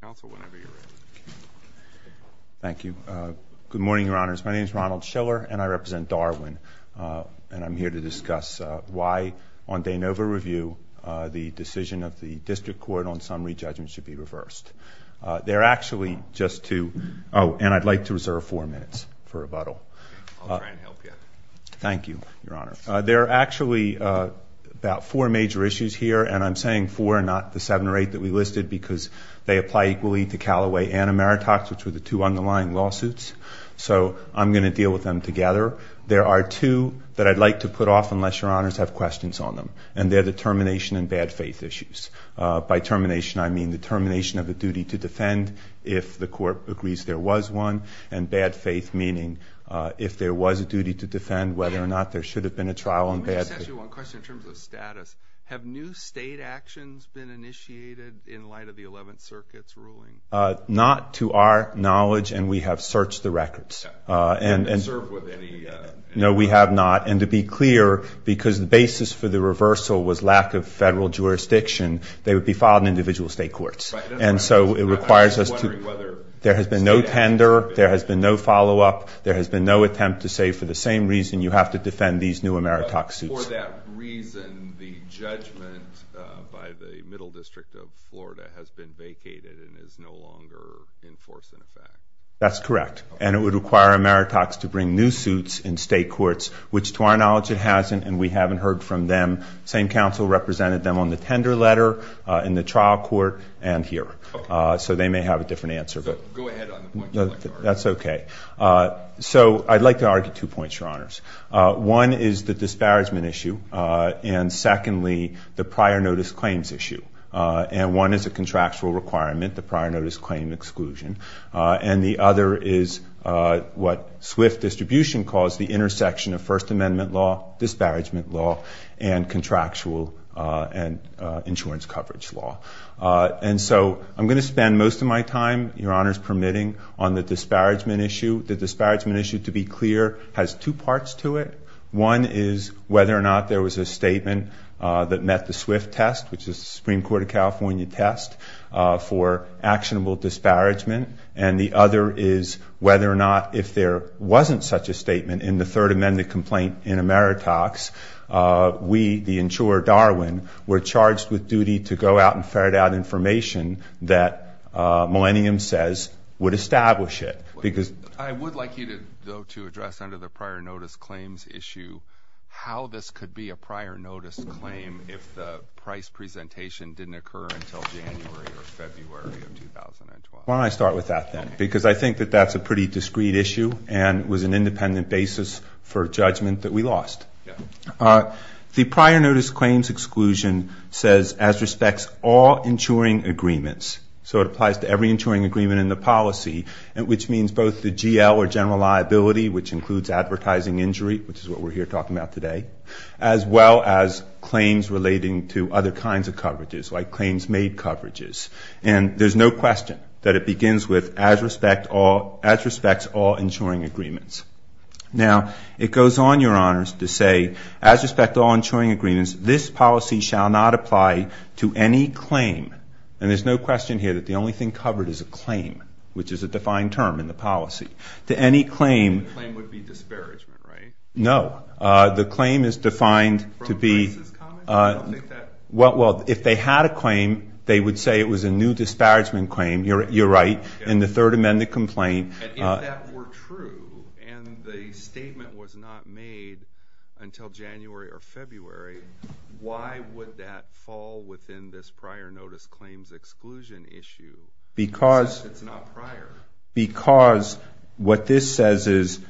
Council, whenever you're ready. Thank you. Good morning, Your Honors. My name is Ronald Schiller, and I represent Darwin, and I'm here to discuss why, on de novo review, the decision of the District Court on summary judgment should be reversed. There are actually just two—oh, and I'd like to reserve four minutes for rebuttal. I'll try and help you. Thank you, Your Honor. There are actually about four major issues here, and I'm saying four, not the seven or eight that we listed, because they apply equally to Callaway and Ameritax, which were the two underlying lawsuits. So I'm going to deal with them together. There are two that I'd like to put off, unless Your Honors have questions on them, and they're the termination and bad faith issues. By termination, I mean the termination of the duty to defend if the Court agrees there was one, and bad faith meaning if there was a duty to defend, whether or not there should have been a trial on bad faith. Let me just ask you one question in terms of status. Have new state actions been initiated in light of the Eleventh Circuit's ruling? Not to our knowledge, and we have searched the records. And served with any— No, we have not. And to be clear, because the basis for the reversal was lack of federal jurisdiction, they would be filed in individual state courts. And so it requires us to— I'm just wondering whether— There has been no tender. There has been no follow-up. There has been no attempt to say, for the same reason, you have to defend these new Emeritus suits. For that reason, the judgment by the Middle District of Florida has been vacated and is no longer in force, in effect. That's correct. And it would require Emeritus to bring new suits in state courts, which to our knowledge it hasn't, and we haven't heard from them. Same counsel represented them on the tender letter, in the trial court, and here. So they may have a different answer. Go ahead on the point you'd like to argue. Sure. That's okay. So I'd like to argue two points, Your Honors. One is the disparagement issue. And secondly, the prior notice claims issue. And one is a contractual requirement, the prior notice claim exclusion. And the other is what Swift Distribution calls the intersection of First Amendment law, disparagement law, and contractual and insurance coverage law. And so I'm going to spend most of my time, Your Honors permitting, on the disparagement issue. The disparagement issue, to be clear, has two parts to it. One is whether or not there was a statement that met the Swift test, which is the Supreme Court of California test, for actionable disparagement. And the other is whether or not if there wasn't such a statement in the Third Amendment complaint in Ameritax, we, the insurer, Darwin, were charged with duty to go out and ferret out information that Millennium says would establish it. I would like you to address, under the prior notice claims issue, how this could be a prior notice claim if the price presentation didn't occur until January or February of 2012. Why don't I start with that then? Because I think that that's a pretty discreet issue and was an independent basis for judgment that we lost. The prior notice claims exclusion says, as respects all insuring agreements. So it applies to every insuring agreement in the policy, which means both the GL or general liability, which includes advertising injury, which is what we're here talking about today, as well as claims relating to other kinds of coverages, like claims made coverages. And there's no question that it begins with, as respects all insuring agreements. Now, it goes on, Your Honors, to say, as respect to all insuring agreements, this policy shall not apply to any claim. And there's no question here that the only thing covered is a claim, which is a defined term in the policy. To any claim. The claim would be disparagement, right? No. The claim is defined to be. From prices comments? I don't think that. Well, if they had a claim, they would say it was a new disparagement claim. You're right. In the Third Amendment complaint. And if that were true, and the statement was not made until January or February, why would that fall within this prior notice claims exclusion issue? Because it's not prior. Because what this says is,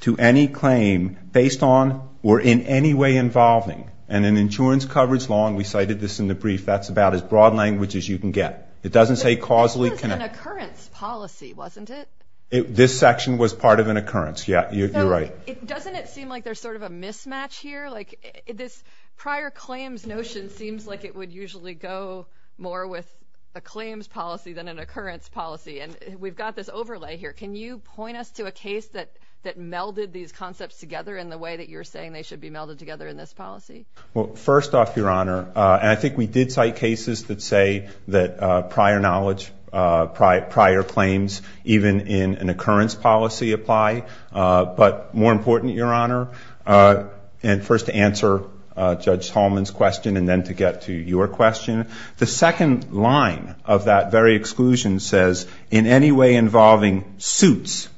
to any claim, based on, or in any way involving, and in insurance coverage law, and we cited this in the brief, that's about as broad language as you can get. It doesn't say causally connected. It was part of an occurrence policy, wasn't it? This section was part of an occurrence. Yeah. You're right. Doesn't it seem like there's sort of a mismatch here? Like this prior claims notion seems like it would usually go more with a claims policy than an occurrence policy. And we've got this overlay here. Can you point us to a case that melded these concepts together in the way that you're saying they should be melded together in this policy? Well, first off, Your Honor, and I think we did cite cases that say that prior knowledge and prior claims, even in an occurrence policy, apply. But more important, Your Honor, and first to answer Judge Tallman's question, and then to get to your question, the second line of that very exclusion says, in any way involving suits.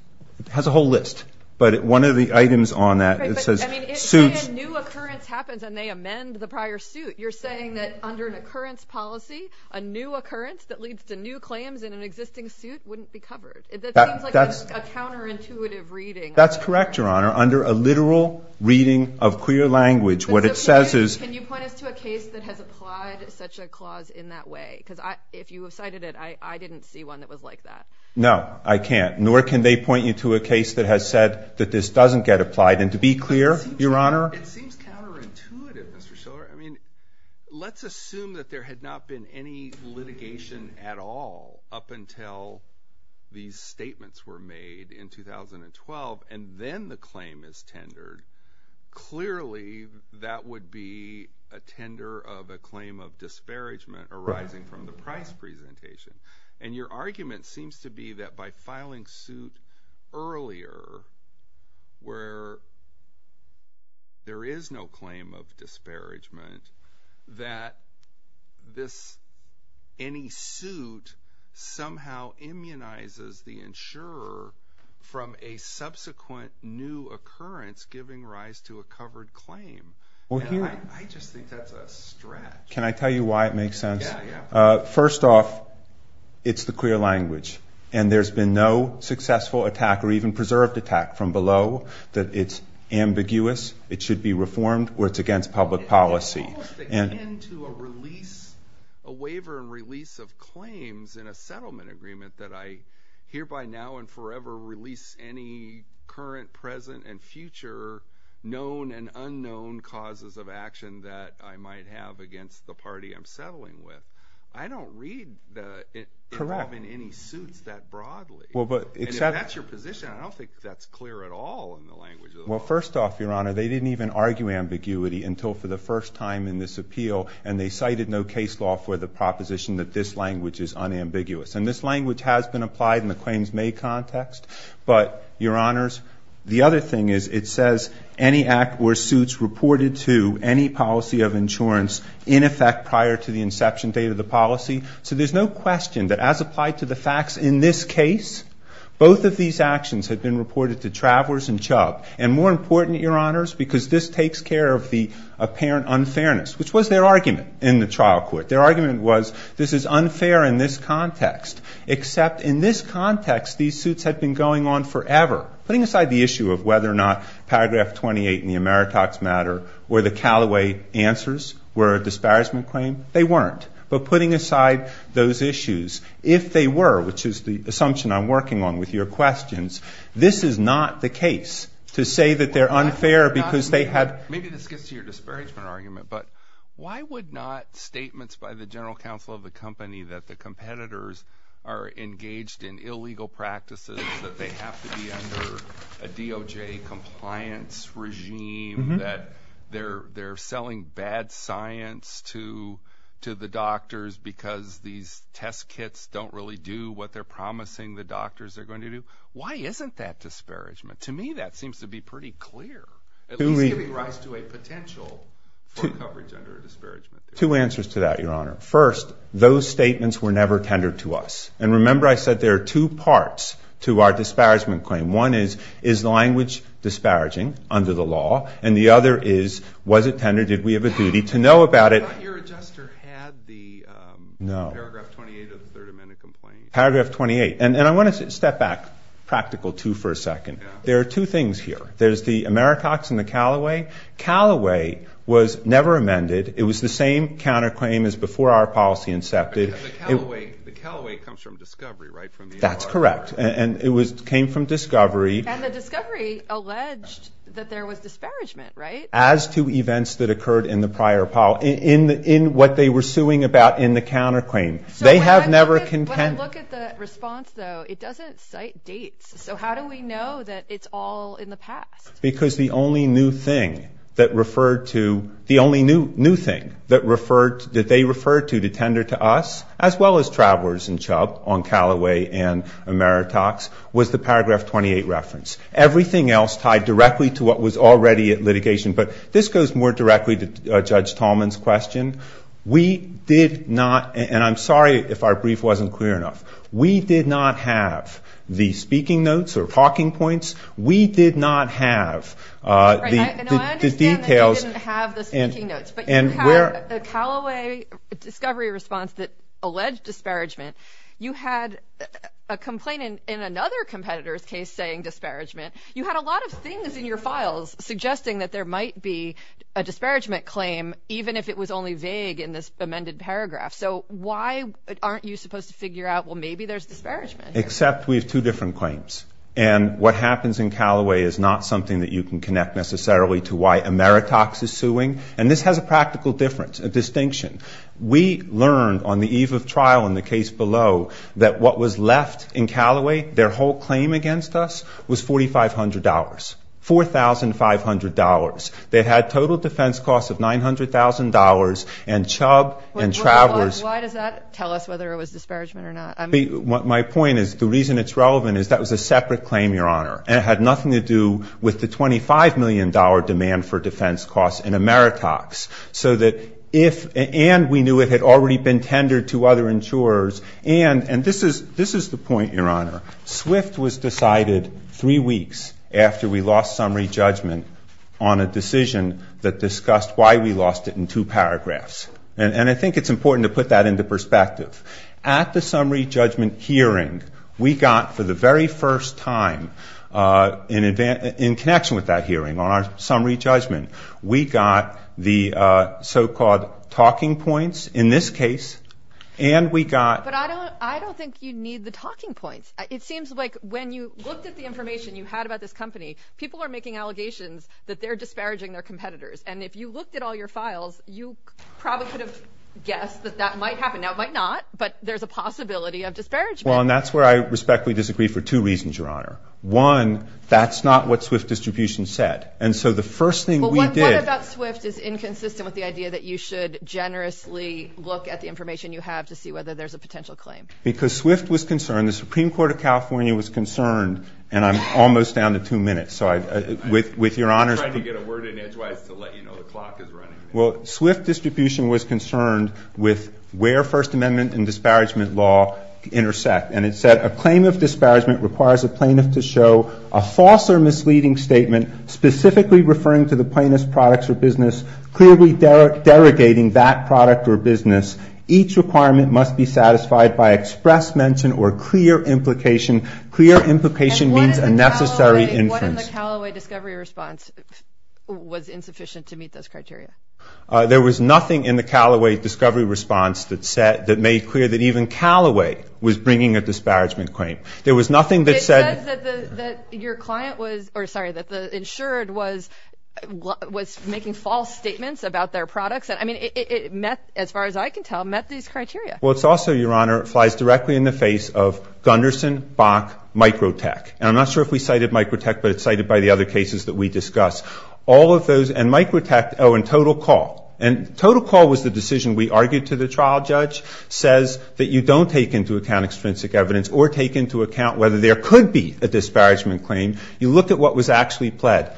It has a whole list. But one of the items on that, it says suits. Right. But I mean, if a new occurrence happens and they amend the prior suit, you're saying that under an occurrence policy, a new occurrence that leads to new claims in an existing suit wouldn't be covered? That seems like a counterintuitive reading. That's correct, Your Honor. Under a literal reading of queer language, what it says is- Can you point us to a case that has applied such a clause in that way? Because if you have cited it, I didn't see one that was like that. No, I can't. Nor can they point you to a case that has said that this doesn't get applied. And to be clear, Your Honor- It seems counterintuitive, Mr. Shiller. I mean, let's assume that there had not been any litigation at all up until these statements were made in 2012, and then the claim is tendered. Clearly, that would be a tender of a claim of disparagement arising from the price presentation. And your argument seems to be that by filing suit earlier, where there is no claim of disparagement, that any suit somehow immunizes the insurer from a subsequent new occurrence giving rise to a covered claim. I just think that's a stretch. Can I tell you why it makes sense? Yeah, yeah. First off, it's the clear language, and there's been no successful attack or even preserved attack from below that it's ambiguous, it should be reformed, or it's against public policy. It's almost akin to a release, a waiver and release of claims in a settlement agreement that I hereby now and forever release any current, present, and future known and unknown causes of action that I might have against the party I'm settling with. I don't read the involvement of any suits that broadly, and if that's your position, I don't think that's clear at all in the language of the law. Well, first off, Your Honor, they didn't even argue ambiguity until for the first time in this appeal, and they cited no case law for the proposition that this language is unambiguous. And this language has been applied in the claims made context, but Your Honors, the reported to any policy of insurance in effect prior to the inception date of the policy, so there's no question that as applied to the facts in this case, both of these actions had been reported to Travelers and Chubb, and more important, Your Honors, because this takes care of the apparent unfairness, which was their argument in the trial court. Their argument was this is unfair in this context, except in this context, these suits had been going on forever. Putting aside the issue of whether or not Paragraph 28 in the Ameritax matter were the Callaway answers, were a disparagement claim, they weren't. But putting aside those issues, if they were, which is the assumption I'm working on with your questions, this is not the case to say that they're unfair because they had – Maybe this gets to your disparagement argument, but why would not statements by the general counsel of the company that the competitors are engaged in illegal practices, that they have to be under a DOJ compliance regime, that they're selling bad science to the doctors because these test kits don't really do what they're promising the doctors are going to do? Why isn't that disparagement? To me, that seems to be pretty clear, at least giving rise to a potential for coverage under a disparagement. Two answers to that, Your Honor. First, those statements were never tendered to us. And remember I said there are two parts to our disparagement claim. One is, is the language disparaging under the law? And the other is, was it tendered? Did we have a duty to know about it? But your adjuster had the Paragraph 28 of the Third Amendment complaint. No. Paragraph 28. And I want to step back practical two for a second. There are two things here. There's the Ameritax and the Callaway. Callaway was never amended. It was the same counterclaim as before our policy incepted. But the Callaway comes from discovery, right? That's correct. And it came from discovery. And the discovery alleged that there was disparagement, right? As to events that occurred in the prior, in what they were suing about in the counterclaim. They have never contended. When I look at the response, though, it doesn't cite dates. So how do we know that it's all in the past? Because the only new thing that referred to, the only new thing that referred, that they referred to to tender to us, as well as Travelers and Chubb on Callaway and Ameritax, was the Paragraph 28 reference. Everything else tied directly to what was already at litigation. But this goes more directly to Judge Tallman's question. We did not, and I'm sorry if our brief wasn't clear enough. We did not have the speaking notes or talking points. We did not have the details. Right. No, I understand that you didn't have the speaking notes, but you had a Callaway discovery response that alleged disparagement. You had a complaint in another competitor's case saying disparagement. You had a lot of things in your files suggesting that there might be a disparagement claim even if it was only vague in this amended paragraph. So why aren't you supposed to figure out, well, maybe there's disparagement here? Except we have two different claims. And what happens in Callaway is not something that you can connect necessarily to why Ameritax is suing. And this has a practical difference, a distinction. We learned on the eve of trial in the case below that what was left in Callaway, their whole claim against us, was $4,500. $4,500. They had total defense costs of $900,000, and Chubb and Travelers Why does that tell us whether it was disparagement or not? My point is, the reason it's relevant is that was a separate claim, Your Honor, and it had nothing to do with the $25 million demand for defense costs in Ameritax. So that if, and we knew it had already been tendered to other insurers, and this is the point, Your Honor, SWIFT was decided three weeks after we lost summary judgment on a decision that discussed why we lost it in two paragraphs. And I think it's important to put that into perspective. At the summary judgment hearing, we got, for the very first time, in connection with that hearing on our summary judgment, we got the so-called talking points in this case, and we got But I don't think you need the talking points. It seems like when you looked at the information you had about this company, people are making allegations that they're disparaging their competitors. And if you looked at all your files, you probably could have guessed that that might happen. Now, it might not, but there's a possibility of disparagement. Well, and that's where I respectfully disagree for two reasons, Your Honor. One, that's not what SWIFT distribution said. And so the first thing we did Well, what about SWIFT is inconsistent with the idea that you should generously look at the information you have to see whether there's a potential claim? Because SWIFT was concerned, the Supreme Court of California was concerned, and I'm almost down to two minutes, so with Your Honor's I'm trying to get a word in edgewise to let you know the clock is running. Well, SWIFT distribution was concerned with where First Amendment and disparagement law intersect. And it said, A claim of disparagement requires a plaintiff to show a false or misleading statement specifically referring to the plaintiff's products or business, clearly derogating that product or business. Each requirement must be satisfied by express mention or clear implication. Clear implication means a necessary inference. What in the Callaway discovery response was insufficient to meet those criteria? There was nothing in the Callaway discovery response that made clear that even Callaway was bringing a disparagement claim. There was nothing that said It said that your client was, or sorry, that the insured was making false statements about their products. I mean, it met, as far as I can tell, met these criteria. Well, it's also, Your Honor, it flies directly in the face of Gundersen, Bach, Microtech. And I'm not sure if we cited Microtech, but it's cited by the other cases that we discussed. All of those, and Microtech, oh, and Total Call. And Total Call was the decision we argued to the trial judge, says that you don't take into account extrinsic evidence or take into account whether there could be a disparagement claim. You look at what was actually pled.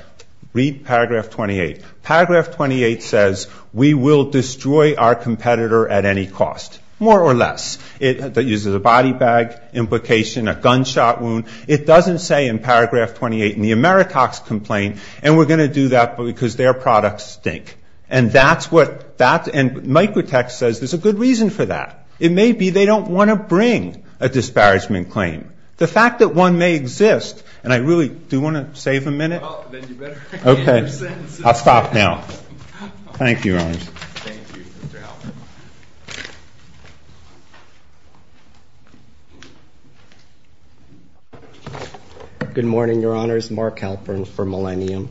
Read paragraph 28. Paragraph 28 says, We will destroy our competitor at any cost, more or less. It uses a body bag implication, a gunshot wound. It doesn't say in paragraph 28 in the Ameritox complaint, and we're going to do that because their products stink. And that's what that, and Microtech says there's a good reason for that. It may be they don't want to bring a disparagement claim. The fact that one may exist, and I really do want to save a minute. Well, then you better end your sentence. Okay. I'll stop now. Thank you, Your Honor. Thank you, Mr. Halpern. Good morning, Your Honors. Mark Halpern for Millennium.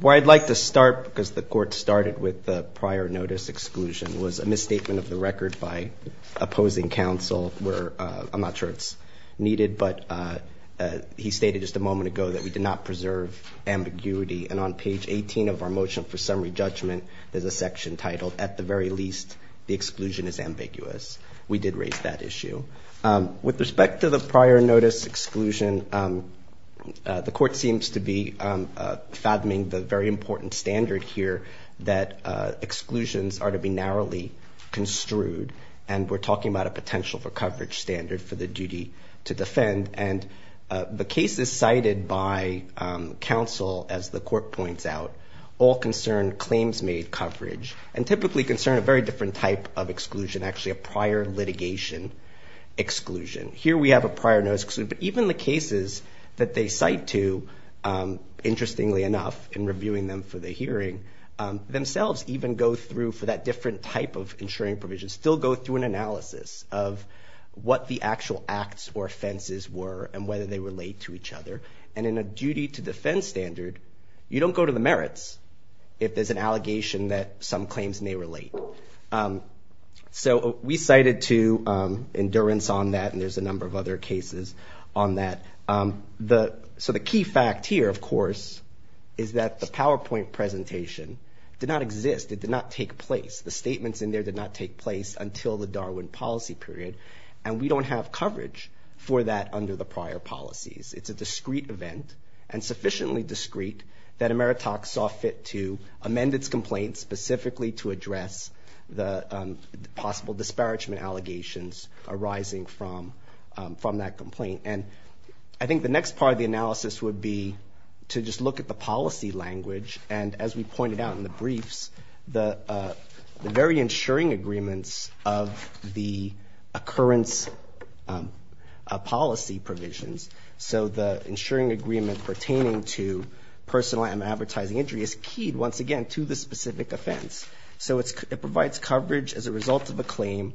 Where I'd like to start, because the Court started with the prior notice exclusion, was a misstatement of the record by opposing counsel where, I'm not sure it's needed, but he stated just a moment ago that we did not preserve ambiguity. And on page 18 of our motion for summary judgment, there's a section titled, at the very least, the exclusion is ambiguous. We did raise that issue. With respect to the prior notice exclusion, the Court seems to be fathoming the very important standard here that exclusions are to be narrowly construed, and we're talking about a potential for coverage standard for the duty to defend. And the cases cited by counsel, as the Court points out, all concern claims made coverage, and typically concern a very different type of exclusion, actually a prior litigation exclusion. Here we have a prior notice exclusion, but even the cases that they cite to, interestingly enough, in reviewing them for the hearing, themselves even go through for that different type of insuring provision, still go through an analysis of what the actual acts or offenses were and whether they relate to each other. And in a duty to defend standard, you don't go to the merits if there's an allegation that some claims may relate. So we cited to endurance on that, and there's a number of other cases on that. So the key fact here, of course, is that the PowerPoint presentation did not exist. It did not take place. The statements in there did not take place until the Darwin policy period, and we don't have coverage for that under the prior policies. It's a discreet event, and sufficiently discreet, that Emeritoc saw fit to amend its complaint specifically to address the possible disparagement allegations arising from that complaint. And I think the next part of the analysis would be to just look at the policy language, and as we pointed out in the briefs, the very insuring agreements of the occurrence policy provisions. So the insuring agreement pertaining to personal and advertising injury is keyed, once again, to the specific offense. So it provides coverage as a result of a claim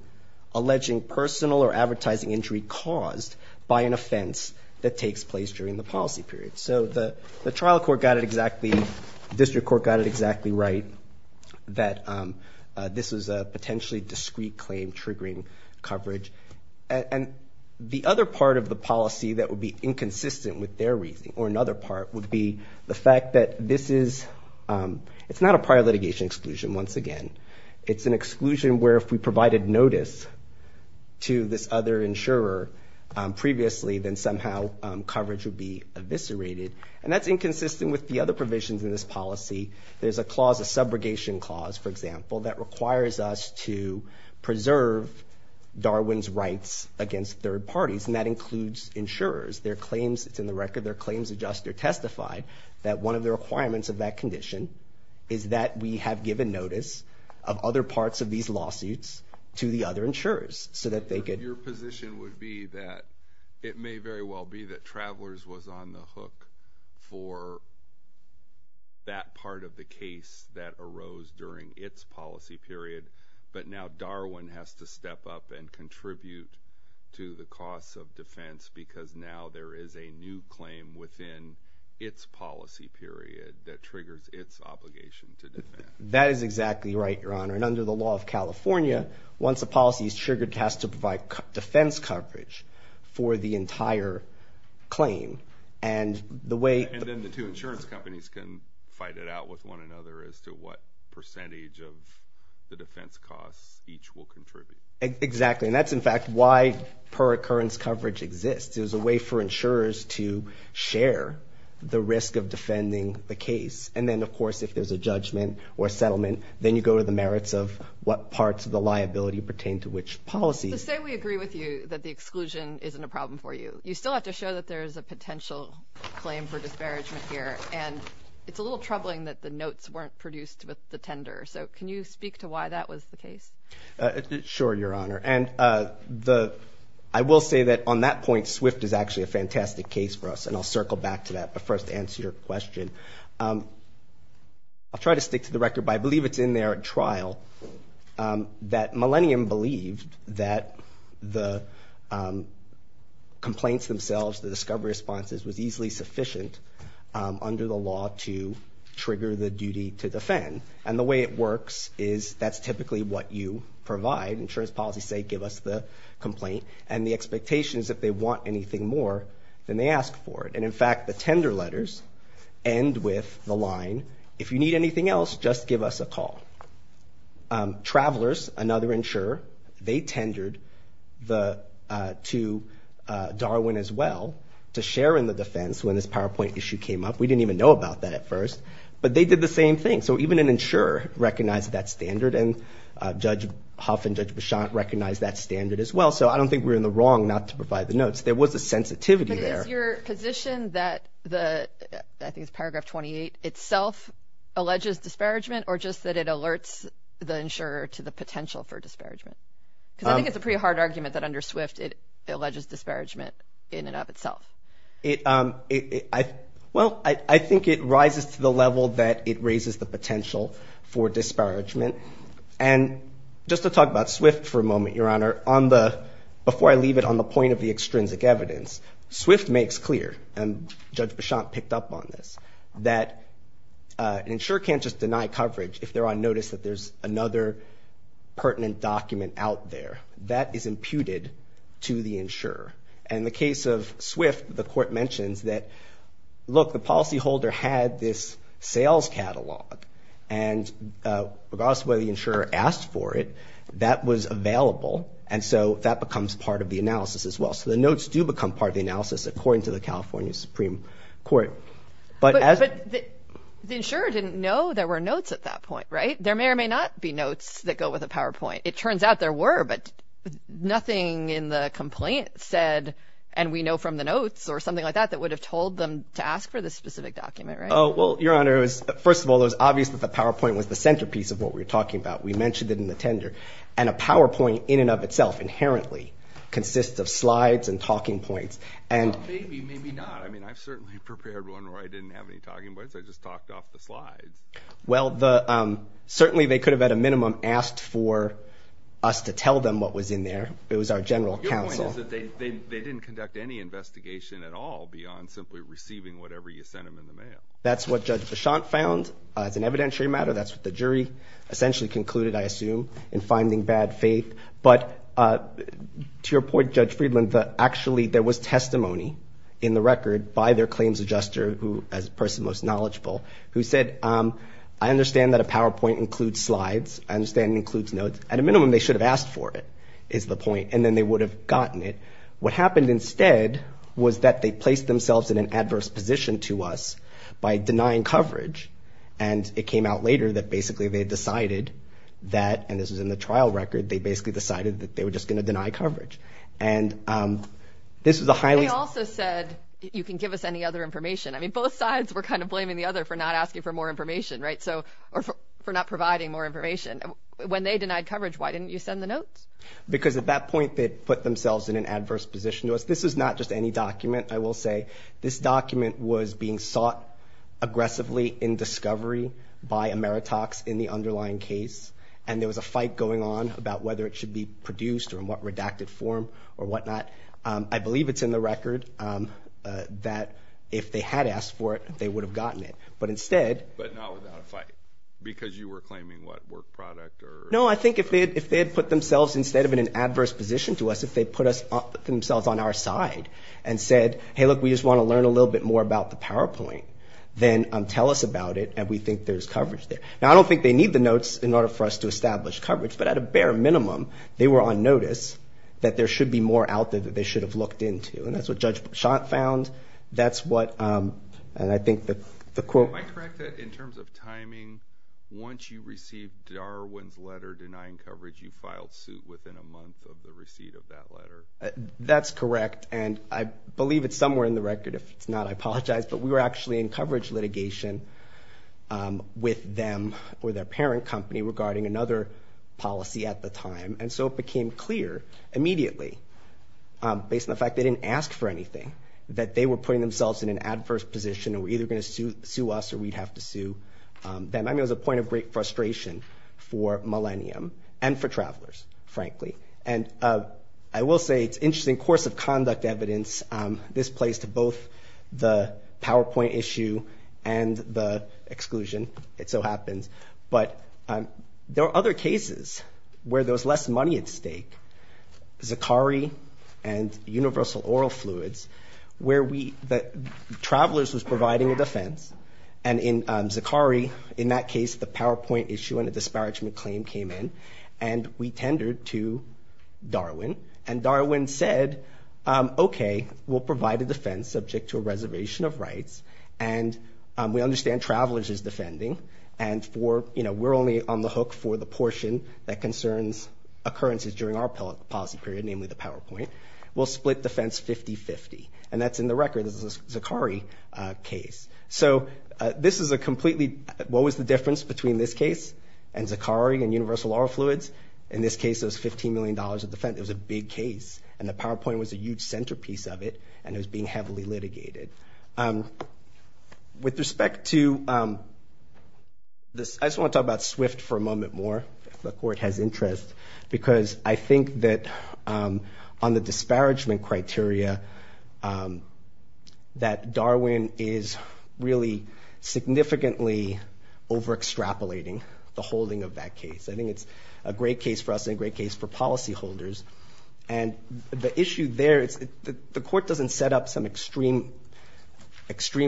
alleging personal or advertising injury caused by an offense that takes place during the policy period. So the trial court got it exactly, district court got it exactly right, that this was a potentially discreet claim triggering coverage. And the other part of the policy that would be inconsistent with their reasoning, or another part, would be the fact that this is, it's not a prior litigation exclusion, once again. It's an exclusion where if we provided notice to this other insurer previously, then somehow coverage would be eviscerated. And that's inconsistent with the other provisions in this policy. There's a clause, a subrogation clause, for example, that requires us to preserve Darwin's rights against third parties, and that includes insurers. Their claims, it's in the record, their claims adjust, they're testified, that one of the requirements of that condition is that we have given notice of other parts of these lawsuits to the other insurers, so that they could... It may very well be that Travelers was on the hook for that part of the case that arose during its policy period, but now Darwin has to step up and contribute to the costs of defense because now there is a new claim within its policy period that triggers its obligation to defend. That is exactly right, Your Honor. And under the law of California, once a policy is triggered, it has to provide defense coverage for the entire claim. And the way... And then the two insurance companies can fight it out with one another as to what percentage of the defense costs each will contribute. Exactly. And that's in fact why per-occurrence coverage exists. It's a way for insurers to share the risk of defending the case. And then, of course, if there's a judgment or a settlement, then you go to the merits of what parts of the liability pertain to which policies. So say we agree with you that the exclusion isn't a problem for you. You still have to show that there is a potential claim for disparagement here, and it's a little troubling that the notes weren't produced with the tender. So can you speak to why that was the case? Sure, Your Honor. And I will say that on that point, SWIFT is actually a fantastic case for us, and I'll try to stick to the record, but I believe it's in their trial that Millennium believed that the complaints themselves, the discovery responses, was easily sufficient under the law to trigger the duty to defend. And the way it works is that's typically what you provide. Insurance policies say, give us the complaint. And the expectation is if they want anything more, then they ask for it. And in fact, the tender letters end with the line, if you need anything else, just give us a call. Travelers, another insurer, they tendered to Darwin as well to share in the defense when this PowerPoint issue came up. We didn't even know about that at first. But they did the same thing. So even an insurer recognized that standard, and Judge Huff and Judge Beauchamp recognized that standard as well. So I don't think we were in the wrong not to provide the notes. There was a sensitivity there. Is your position that the, I think it's paragraph 28, itself alleges disparagement, or just that it alerts the insurer to the potential for disparagement? Because I think it's a pretty hard argument that under SWIFT, it alleges disparagement in and of itself. Well, I think it rises to the level that it raises the potential for disparagement. And just to talk about SWIFT for a moment, Your Honor, before I leave it on the point of the extrinsic evidence, SWIFT makes clear, and Judge Beauchamp picked up on this, that an insurer can't just deny coverage if they're on notice that there's another pertinent document out there. That is imputed to the insurer. And the case of SWIFT, the court mentions that, look, the policyholder had this sales catalog. And regardless of whether the insurer asked for it, that was available. And so that becomes part of the analysis as well. So the notes do become part of the analysis, according to the California Supreme Court. But the insurer didn't know there were notes at that point, right? There may or may not be notes that go with a PowerPoint. It turns out there were, but nothing in the complaint said, and we know from the notes, or something like that, that would have told them to ask for this specific document, right? Oh, well, Your Honor, first of all, it was obvious that the PowerPoint was the centerpiece of what we were talking about. We mentioned it in the tender. And a PowerPoint, in and of itself, inherently, consists of slides and talking points, and Well, maybe, maybe not. I mean, I've certainly prepared one where I didn't have any talking points. I just talked off the slides. Well, certainly, they could have, at a minimum, asked for us to tell them what was in there. It was our general counsel. Well, your point is that they didn't conduct any investigation at all beyond simply receiving whatever you sent them in the mail. That's what Judge Bichonte found as an evidentiary matter. That's what the jury essentially concluded, I assume. In finding bad faith. But to your point, Judge Friedland, actually, there was testimony in the record by their claims adjuster, who, as a person most knowledgeable, who said, I understand that a PowerPoint includes slides. I understand it includes notes. At a minimum, they should have asked for it, is the point. And then they would have gotten it. What happened instead was that they placed themselves in an adverse position to us by denying coverage. And it came out later that, basically, they decided that, and this was in the trial record, they basically decided that they were just going to deny coverage. And this was a highly- They also said, you can give us any other information. I mean, both sides were kind of blaming the other for not asking for more information, right? So, or for not providing more information. When they denied coverage, why didn't you send the notes? Because at that point, they put themselves in an adverse position to us. This is not just any document, I will say. This document was being sought aggressively in discovery by Ameritox in the underlying case, and there was a fight going on about whether it should be produced or in what redacted form or whatnot. I believe it's in the record that if they had asked for it, they would have gotten it. But instead- But not without a fight, because you were claiming, what, work product or- No, I think if they had put themselves, instead of in an adverse position to us, if they put on our side and said, hey, look, we just want to learn a little bit more about the PowerPoint, then tell us about it, and we think there's coverage there. Now, I don't think they need the notes in order for us to establish coverage, but at a bare minimum, they were on notice that there should be more out there that they should have looked into. And that's what Judge Schott found. That's what- And I think the quote- Am I correct that in terms of timing, once you received Darwin's letter denying coverage, you filed suit within a month of the receipt of that letter? That's correct. And I believe it's somewhere in the record. If it's not, I apologize. But we were actually in coverage litigation with them or their parent company regarding another policy at the time. And so it became clear immediately, based on the fact they didn't ask for anything, that they were putting themselves in an adverse position and were either going to sue us or we'd have to sue them. I mean, it was a point of great frustration for Millennium and for travelers, frankly. And I will say it's interesting course of conduct evidence. This plays to both the PowerPoint issue and the exclusion. It so happens. But there are other cases where there was less money at stake, Zakari and Universal Oral Fluids, where we- the travelers was providing a defense. And in Zakari, in that case, the PowerPoint issue and a disparagement claim came in. And we tendered to Darwin. And Darwin said, okay, we'll provide a defense subject to a reservation of rights. And we understand travelers is defending. And for, you know, we're only on the hook for the portion that concerns occurrences during our policy period, namely the PowerPoint. We'll split defense 50-50. And that's in the record of the Zakari case. So this is a completely- what was the difference between this case and Zakari and Universal Oral Fluids? In this case, it was $15 million of defense. It was a big case. And the PowerPoint was a huge centerpiece of it. And it was being heavily litigated. With respect to this, I just want to talk about SWIFT for a moment more, if the court has interest. Because I think that on the disparagement criteria, that Darwin is really significantly over-extrapolating the holding of that case. I think it's a great case for us and a great case for policyholders. And the issue there, the court doesn't set up some extreme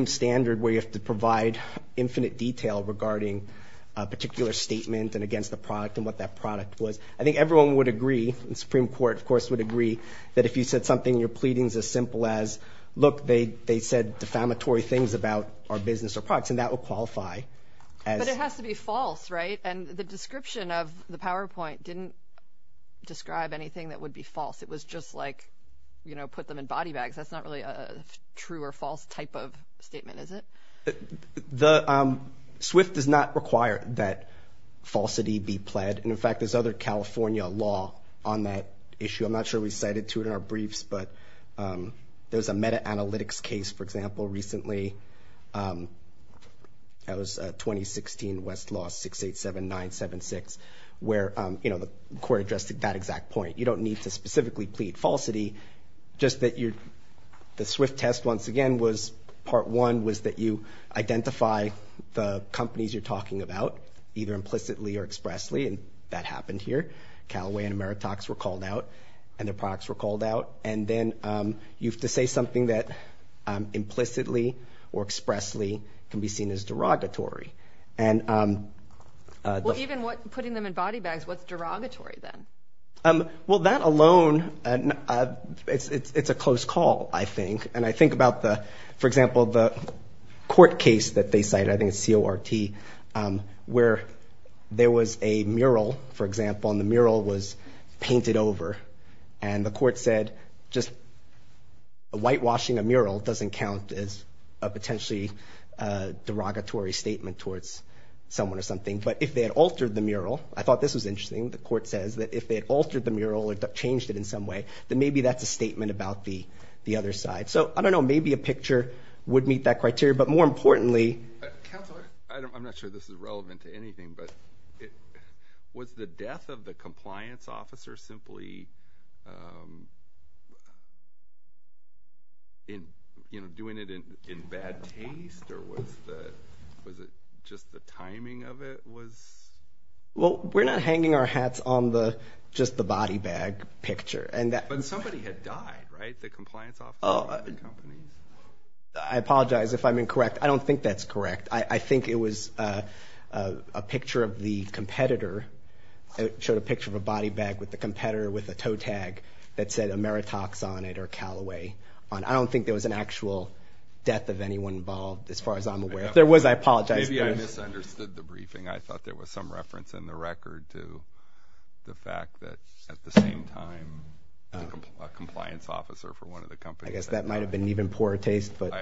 standard where you have to provide infinite detail regarding a particular statement and against the product and what that product was. I think everyone would agree, the Supreme Court, of course, would agree that if you said something, your pleading is as simple as, look, they said defamatory things about our business or products. And that would qualify as- But it has to be false, right? And the description of the PowerPoint didn't describe anything that would be false. It was just like, you know, put them in body bags. That's not really a true or false type of statement, is it? The- SWIFT does not require that falsity be pled. And in fact, there's other California law on that issue. I'm not sure we cited to it in our briefs, but there was a meta-analytics case, for example, recently. That was 2016 Westlaw 687976, where, you know, the court addressed that exact point. You don't need to specifically plead falsity, just that you're- the SWIFT test, once again, was- part one was that you identify the companies you're talking about, either implicitly or expressly, and that happened here. Callaway and Ameritox were called out, and their products were called out. And then you have to say something that implicitly or expressly can be seen as derogatory. And- Well, even what- putting them in body bags, what's derogatory then? Well, that alone, it's a close call, I think. And I think about the- for example, the court case that they cited, I think it's CORT, where there was a mural, for example, and the mural was painted over. And the court said, just whitewashing a mural doesn't count as a potentially derogatory statement towards someone or something. But if they had altered the mural, I thought this was interesting, the court says that if they had altered the mural or changed it in some way, then maybe that's a statement about the other side. So, I don't know, maybe a picture would meet that criteria. But more importantly- Counselor? I'm not sure this is relevant to anything, but was the death of the compliance officer simply, you know, doing it in bad taste, or was it just the timing of it was- Well, we're not hanging our hats on the- just the body bag picture. And that- But somebody had died, right? Was it the compliance officer of the company? I apologize if I'm incorrect. I don't think that's correct. I think it was a picture of the competitor, it showed a picture of a body bag with the competitor with a toe tag that said Ameritox on it, or Callaway on it. I don't think there was an actual death of anyone involved, as far as I'm aware. If there was, I apologize. Maybe I misunderstood the briefing, I thought there was some reference in the record to the fact that, at the same time, a compliance officer for one of the companies- I guess that might have been even poorer taste, but-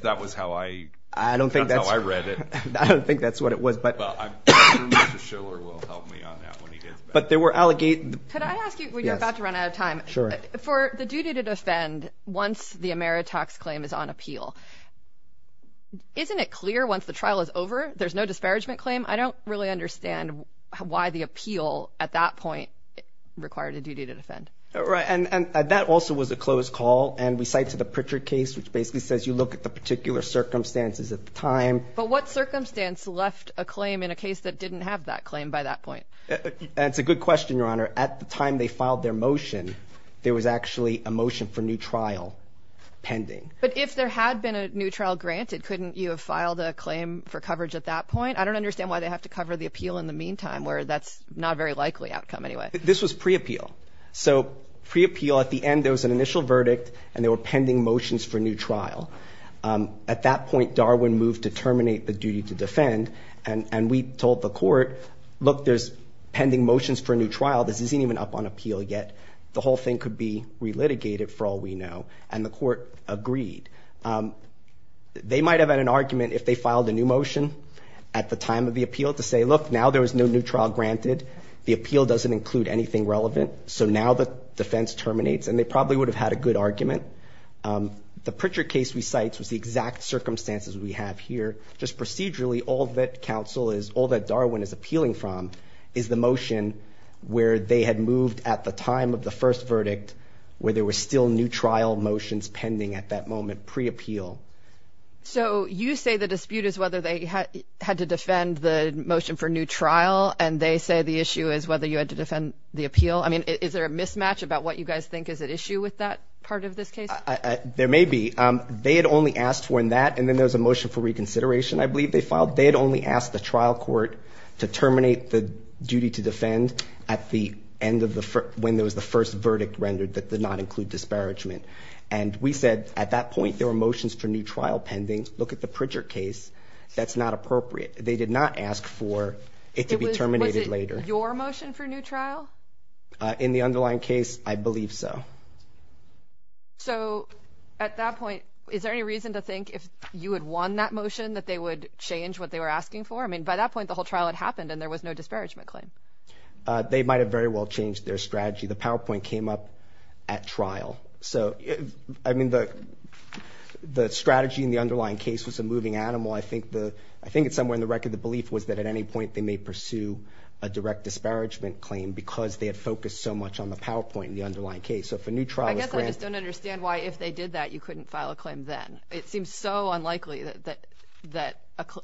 That was how I- I don't think that's- That's how I read it. I don't think that's what it was, but- Well, I'm sure Mr. Schiller will help me on that when he gets back. But there were- Could I ask you- Yes. We're about to run out of time. Sure. For the duty to defend once the Ameritox claim is on appeal, isn't it clear once the trial is over, there's no disparagement claim? I don't really understand why the appeal, at that point, required a duty to defend. Right. And that also was a closed call, and we cite to the Pritchard case, which basically says you look at the particular circumstances at the time- But what circumstance left a claim in a case that didn't have that claim by that point? That's a good question, Your Honor. At the time they filed their motion, there was actually a motion for new trial pending. But if there had been a new trial granted, couldn't you have filed a claim for coverage at that point? I don't understand why they have to cover the appeal in the meantime, where that's not a very likely outcome anyway. This was pre-appeal. So pre-appeal, at the end, there was an initial verdict, and there were pending motions for new trial. At that point, Darwin moved to terminate the duty to defend, and we told the court, look, there's pending motions for a new trial. This isn't even up on appeal yet. The whole thing could be re-litigated, for all we know. And the court agreed. They might have had an argument if they filed a new motion at the time of the appeal to say, look, now there was no new trial granted. The appeal doesn't include anything relevant. So now the defense terminates. And they probably would have had a good argument. The Pritchard case we cite was the exact circumstances we have here. Just procedurally, all that Darwin is appealing from is the motion where they had moved at the time of the first verdict, where there were still new trial motions pending at that moment, pre-appeal. So you say the dispute is whether they had to defend the motion for new trial, and they say the issue is whether you had to defend the appeal? I mean, is there a mismatch about what you guys think is at issue with that part of this case? There may be. They had only asked for that, and then there was a motion for reconsideration, I believe, they filed. They had only asked the trial court to terminate the duty to defend at the end of the first – when there was the first verdict rendered that did not include disparagement. And we said, at that point, there were motions for new trial pending. Look at the Pritchard case. That's not appropriate. They did not ask for it to be terminated later. Was it your motion for new trial? In the underlying case, I believe so. So at that point, is there any reason to think if you had won that motion that they would change what they were asking for? I mean, by that point, the whole trial had happened, and there was no disparagement claim. They might have very well changed their strategy. The PowerPoint came up at trial. So, I mean, the strategy in the underlying case was a moving animal. I think it's somewhere in the record the belief was that at any point they may pursue a direct disparagement claim because they had focused so much on the PowerPoint in the underlying case. So if a new trial was granted – I guess I just don't understand why if they did that, you couldn't file a claim then. It seems so unlikely that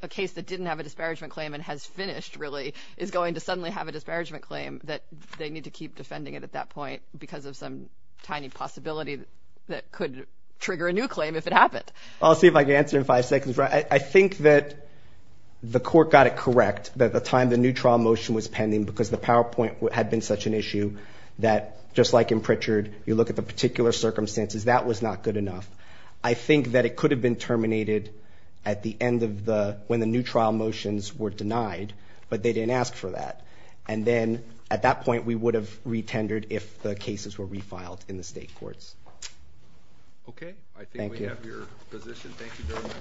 a case that didn't have a disparagement claim and has finished, really, is going to suddenly have a disparagement claim that they need to keep defending it at that point because of some tiny possibility that could trigger a new claim if it happened. I'll see if I can answer in five seconds. I think that the court got it correct that the time the new trial motion was pending because the PowerPoint had been such an issue that, just like in Pritchard, you look at the particular circumstances, that was not good enough. I think that it could have been terminated at the end of the – when the new trial motions were denied, but they didn't ask for that. And then, at that point, we would have re-tendered if the cases were re-filed in the state courts. Okay. Thank you. I think we have your position. Thank you very much.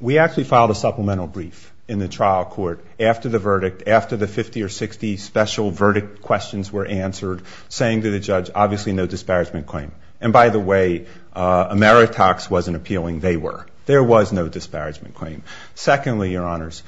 We actually filed a supplemental brief in the trial court after the verdict, after the 50 or 60 special verdict questions were answered, saying to the judge, obviously, no disparagement claim. And by the way, Ameritax wasn't appealing. They were. There was no disparagement claim. Secondly, Your Honors,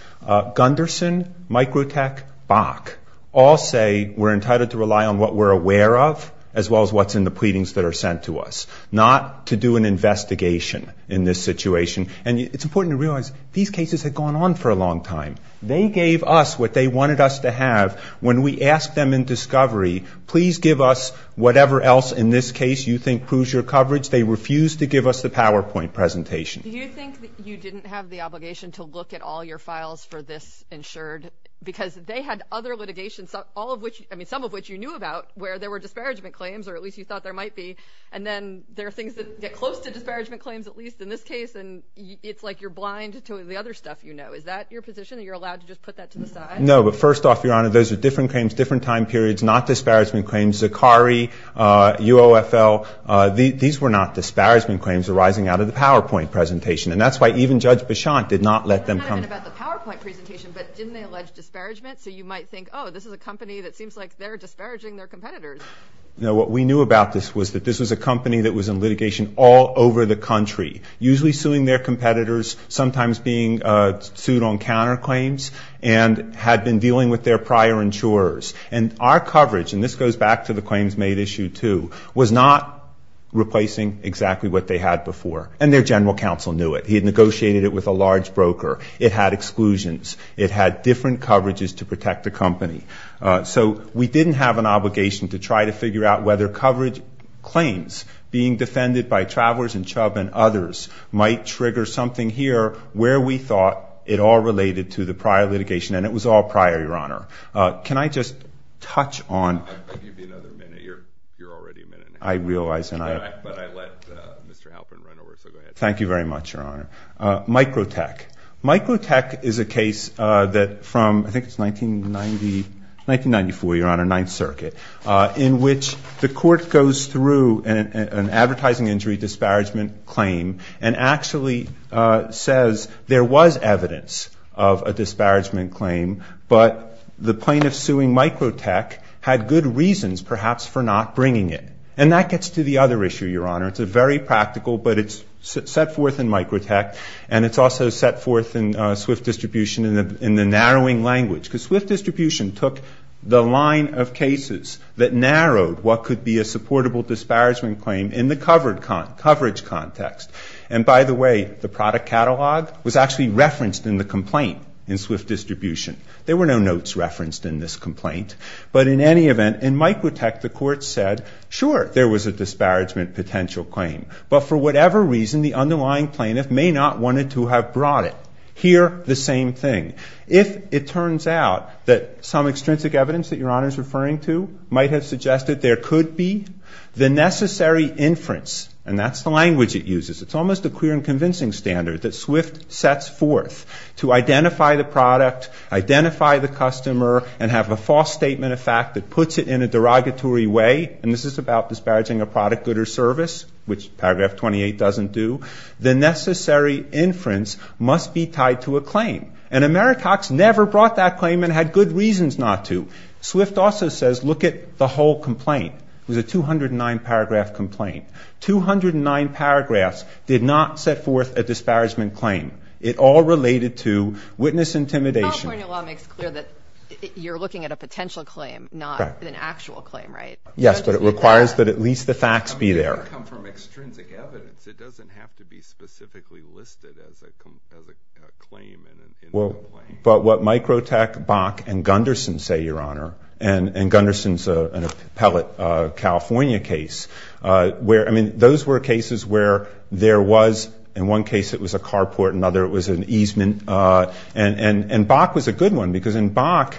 Gunderson, Microtech, Bach, all say we're entitled to rely on what we're aware of, as well as what's in the pleadings that are sent to us, not to do an investigation in this situation. And it's important to realize these cases had gone on for a long time. They gave us what they wanted us to have. When we asked them in discovery, please give us whatever else in this case you think proves your coverage, they refused to give us the PowerPoint presentation. Do you think that you didn't have the obligation to look at all your files for this insured? Because they had other litigations, all of which, I mean, some of which you knew about, where there were disparagement claims, or at least you thought there might be. And then there are things that get close to disparagement claims, at least in this case, and it's like you're blind to the other stuff you know. Is that your position, that you're allowed to just put that to the side? No. But first off, Your Honor, those are different claims, different time periods, not disparagement claims. Zakari, UOFL, these were not disparagement claims arising out of the PowerPoint presentation. And that's why even Judge Bichon did not let them come. It's not even about the PowerPoint presentation, but didn't they allege disparagement? So you might think, oh, this is a company that seems like they're disparaging their competitors. No. What we knew about this was that this was a company that was in litigation all over the country, usually suing their competitors, sometimes being sued on counterclaims, and had been dealing with their prior insurers. And our coverage, and this goes back to the claims made issue two, was not replacing exactly what they had before. And their general counsel knew it. He had negotiated it with a large broker. It had exclusions. It had different coverages to protect the company. So we didn't have an obligation to try to figure out whether coverage claims being defended by travelers and chub and others might trigger something here where we thought it all related to the prior litigation. And it was all prior, Your Honor. Can I just touch on? I'll give you another minute. You're already a minute in. I realize. But I let Mr. Halpern run over, so go ahead. Thank you very much, Your Honor. Microtech. Microtech is a case that from, I think it's 1994, Your Honor, Ninth Circuit, in which the court goes through an advertising injury disparagement claim and actually says there was evidence of a disparagement claim, but the plaintiff suing Microtech had good reasons perhaps for not bringing it. And that gets to the other issue, Your Honor. It's a very practical, but it's set forth in Microtech, and it's also set forth in SWIFT Distribution in the narrowing language, because SWIFT Distribution took the line of cases that narrowed what could be a supportable disparagement claim in the coverage context. And by the way, the product catalog was actually referenced in the complaint in SWIFT Distribution. There were no notes referenced in this complaint. But in any event, in Microtech, the court said, sure, there was a disparagement potential claim, but for whatever reason, the underlying plaintiff may not have wanted to have brought it. Here, the same thing. If it turns out that some extrinsic evidence that Your Honor is referring to might have necessary inference, and that's the language it uses, it's almost a clear and convincing standard that SWIFT sets forth to identify the product, identify the customer, and have a false statement of fact that puts it in a derogatory way, and this is about disparaging a product, good, or service, which Paragraph 28 doesn't do. The necessary inference must be tied to a claim. And Americox never brought that claim and had good reasons not to. SWIFT also says, look at the whole complaint. It was a 209-paragraph complaint. Two hundred and nine paragraphs did not set forth a disparagement claim. It all related to witness intimidation. The PowerPoint in your law makes clear that you're looking at a potential claim, not an actual claim, right? Yes, but it requires that at least the facts be there. I mean, it doesn't come from extrinsic evidence. It doesn't have to be specifically listed as a claim in the complaint. But what Microtech, Bach, and Gunderson say, Your Honor, and Gunderson's a pellet California case, where, I mean, those were cases where there was, in one case it was a carport, in another it was an easement, and Bach was a good one because in Bach,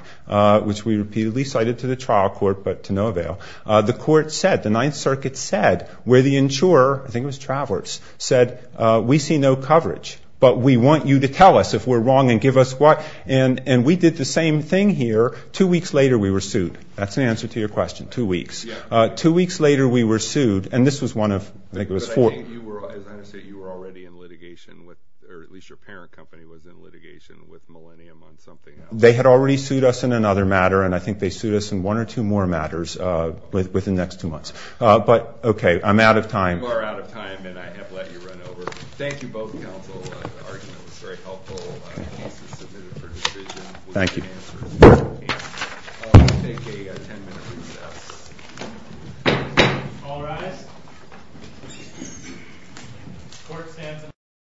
which we repeatedly cited to the trial court but to no avail, the court said, the Ninth Circuit said, where the insurer, I think it was Travers, said, we see no coverage, but we want you to tell us if we're wrong and give us what. And we did the same thing here. Two weeks later we were sued. That's an answer to your question, two weeks. Two weeks later we were sued. And this was one of, I think it was four. But I think you were, as I understand it, you were already in litigation with, or at least your parent company was in litigation with Millennium on something else. They had already sued us in another matter, and I think they sued us in one or two more matters within the next two months. But okay, I'm out of time. You are out of time, and I have let you run over. Thank you both counsel. The argument was very helpful. The case is submitted for decision. Thank you. We'll take a ten-minute recess. All rise.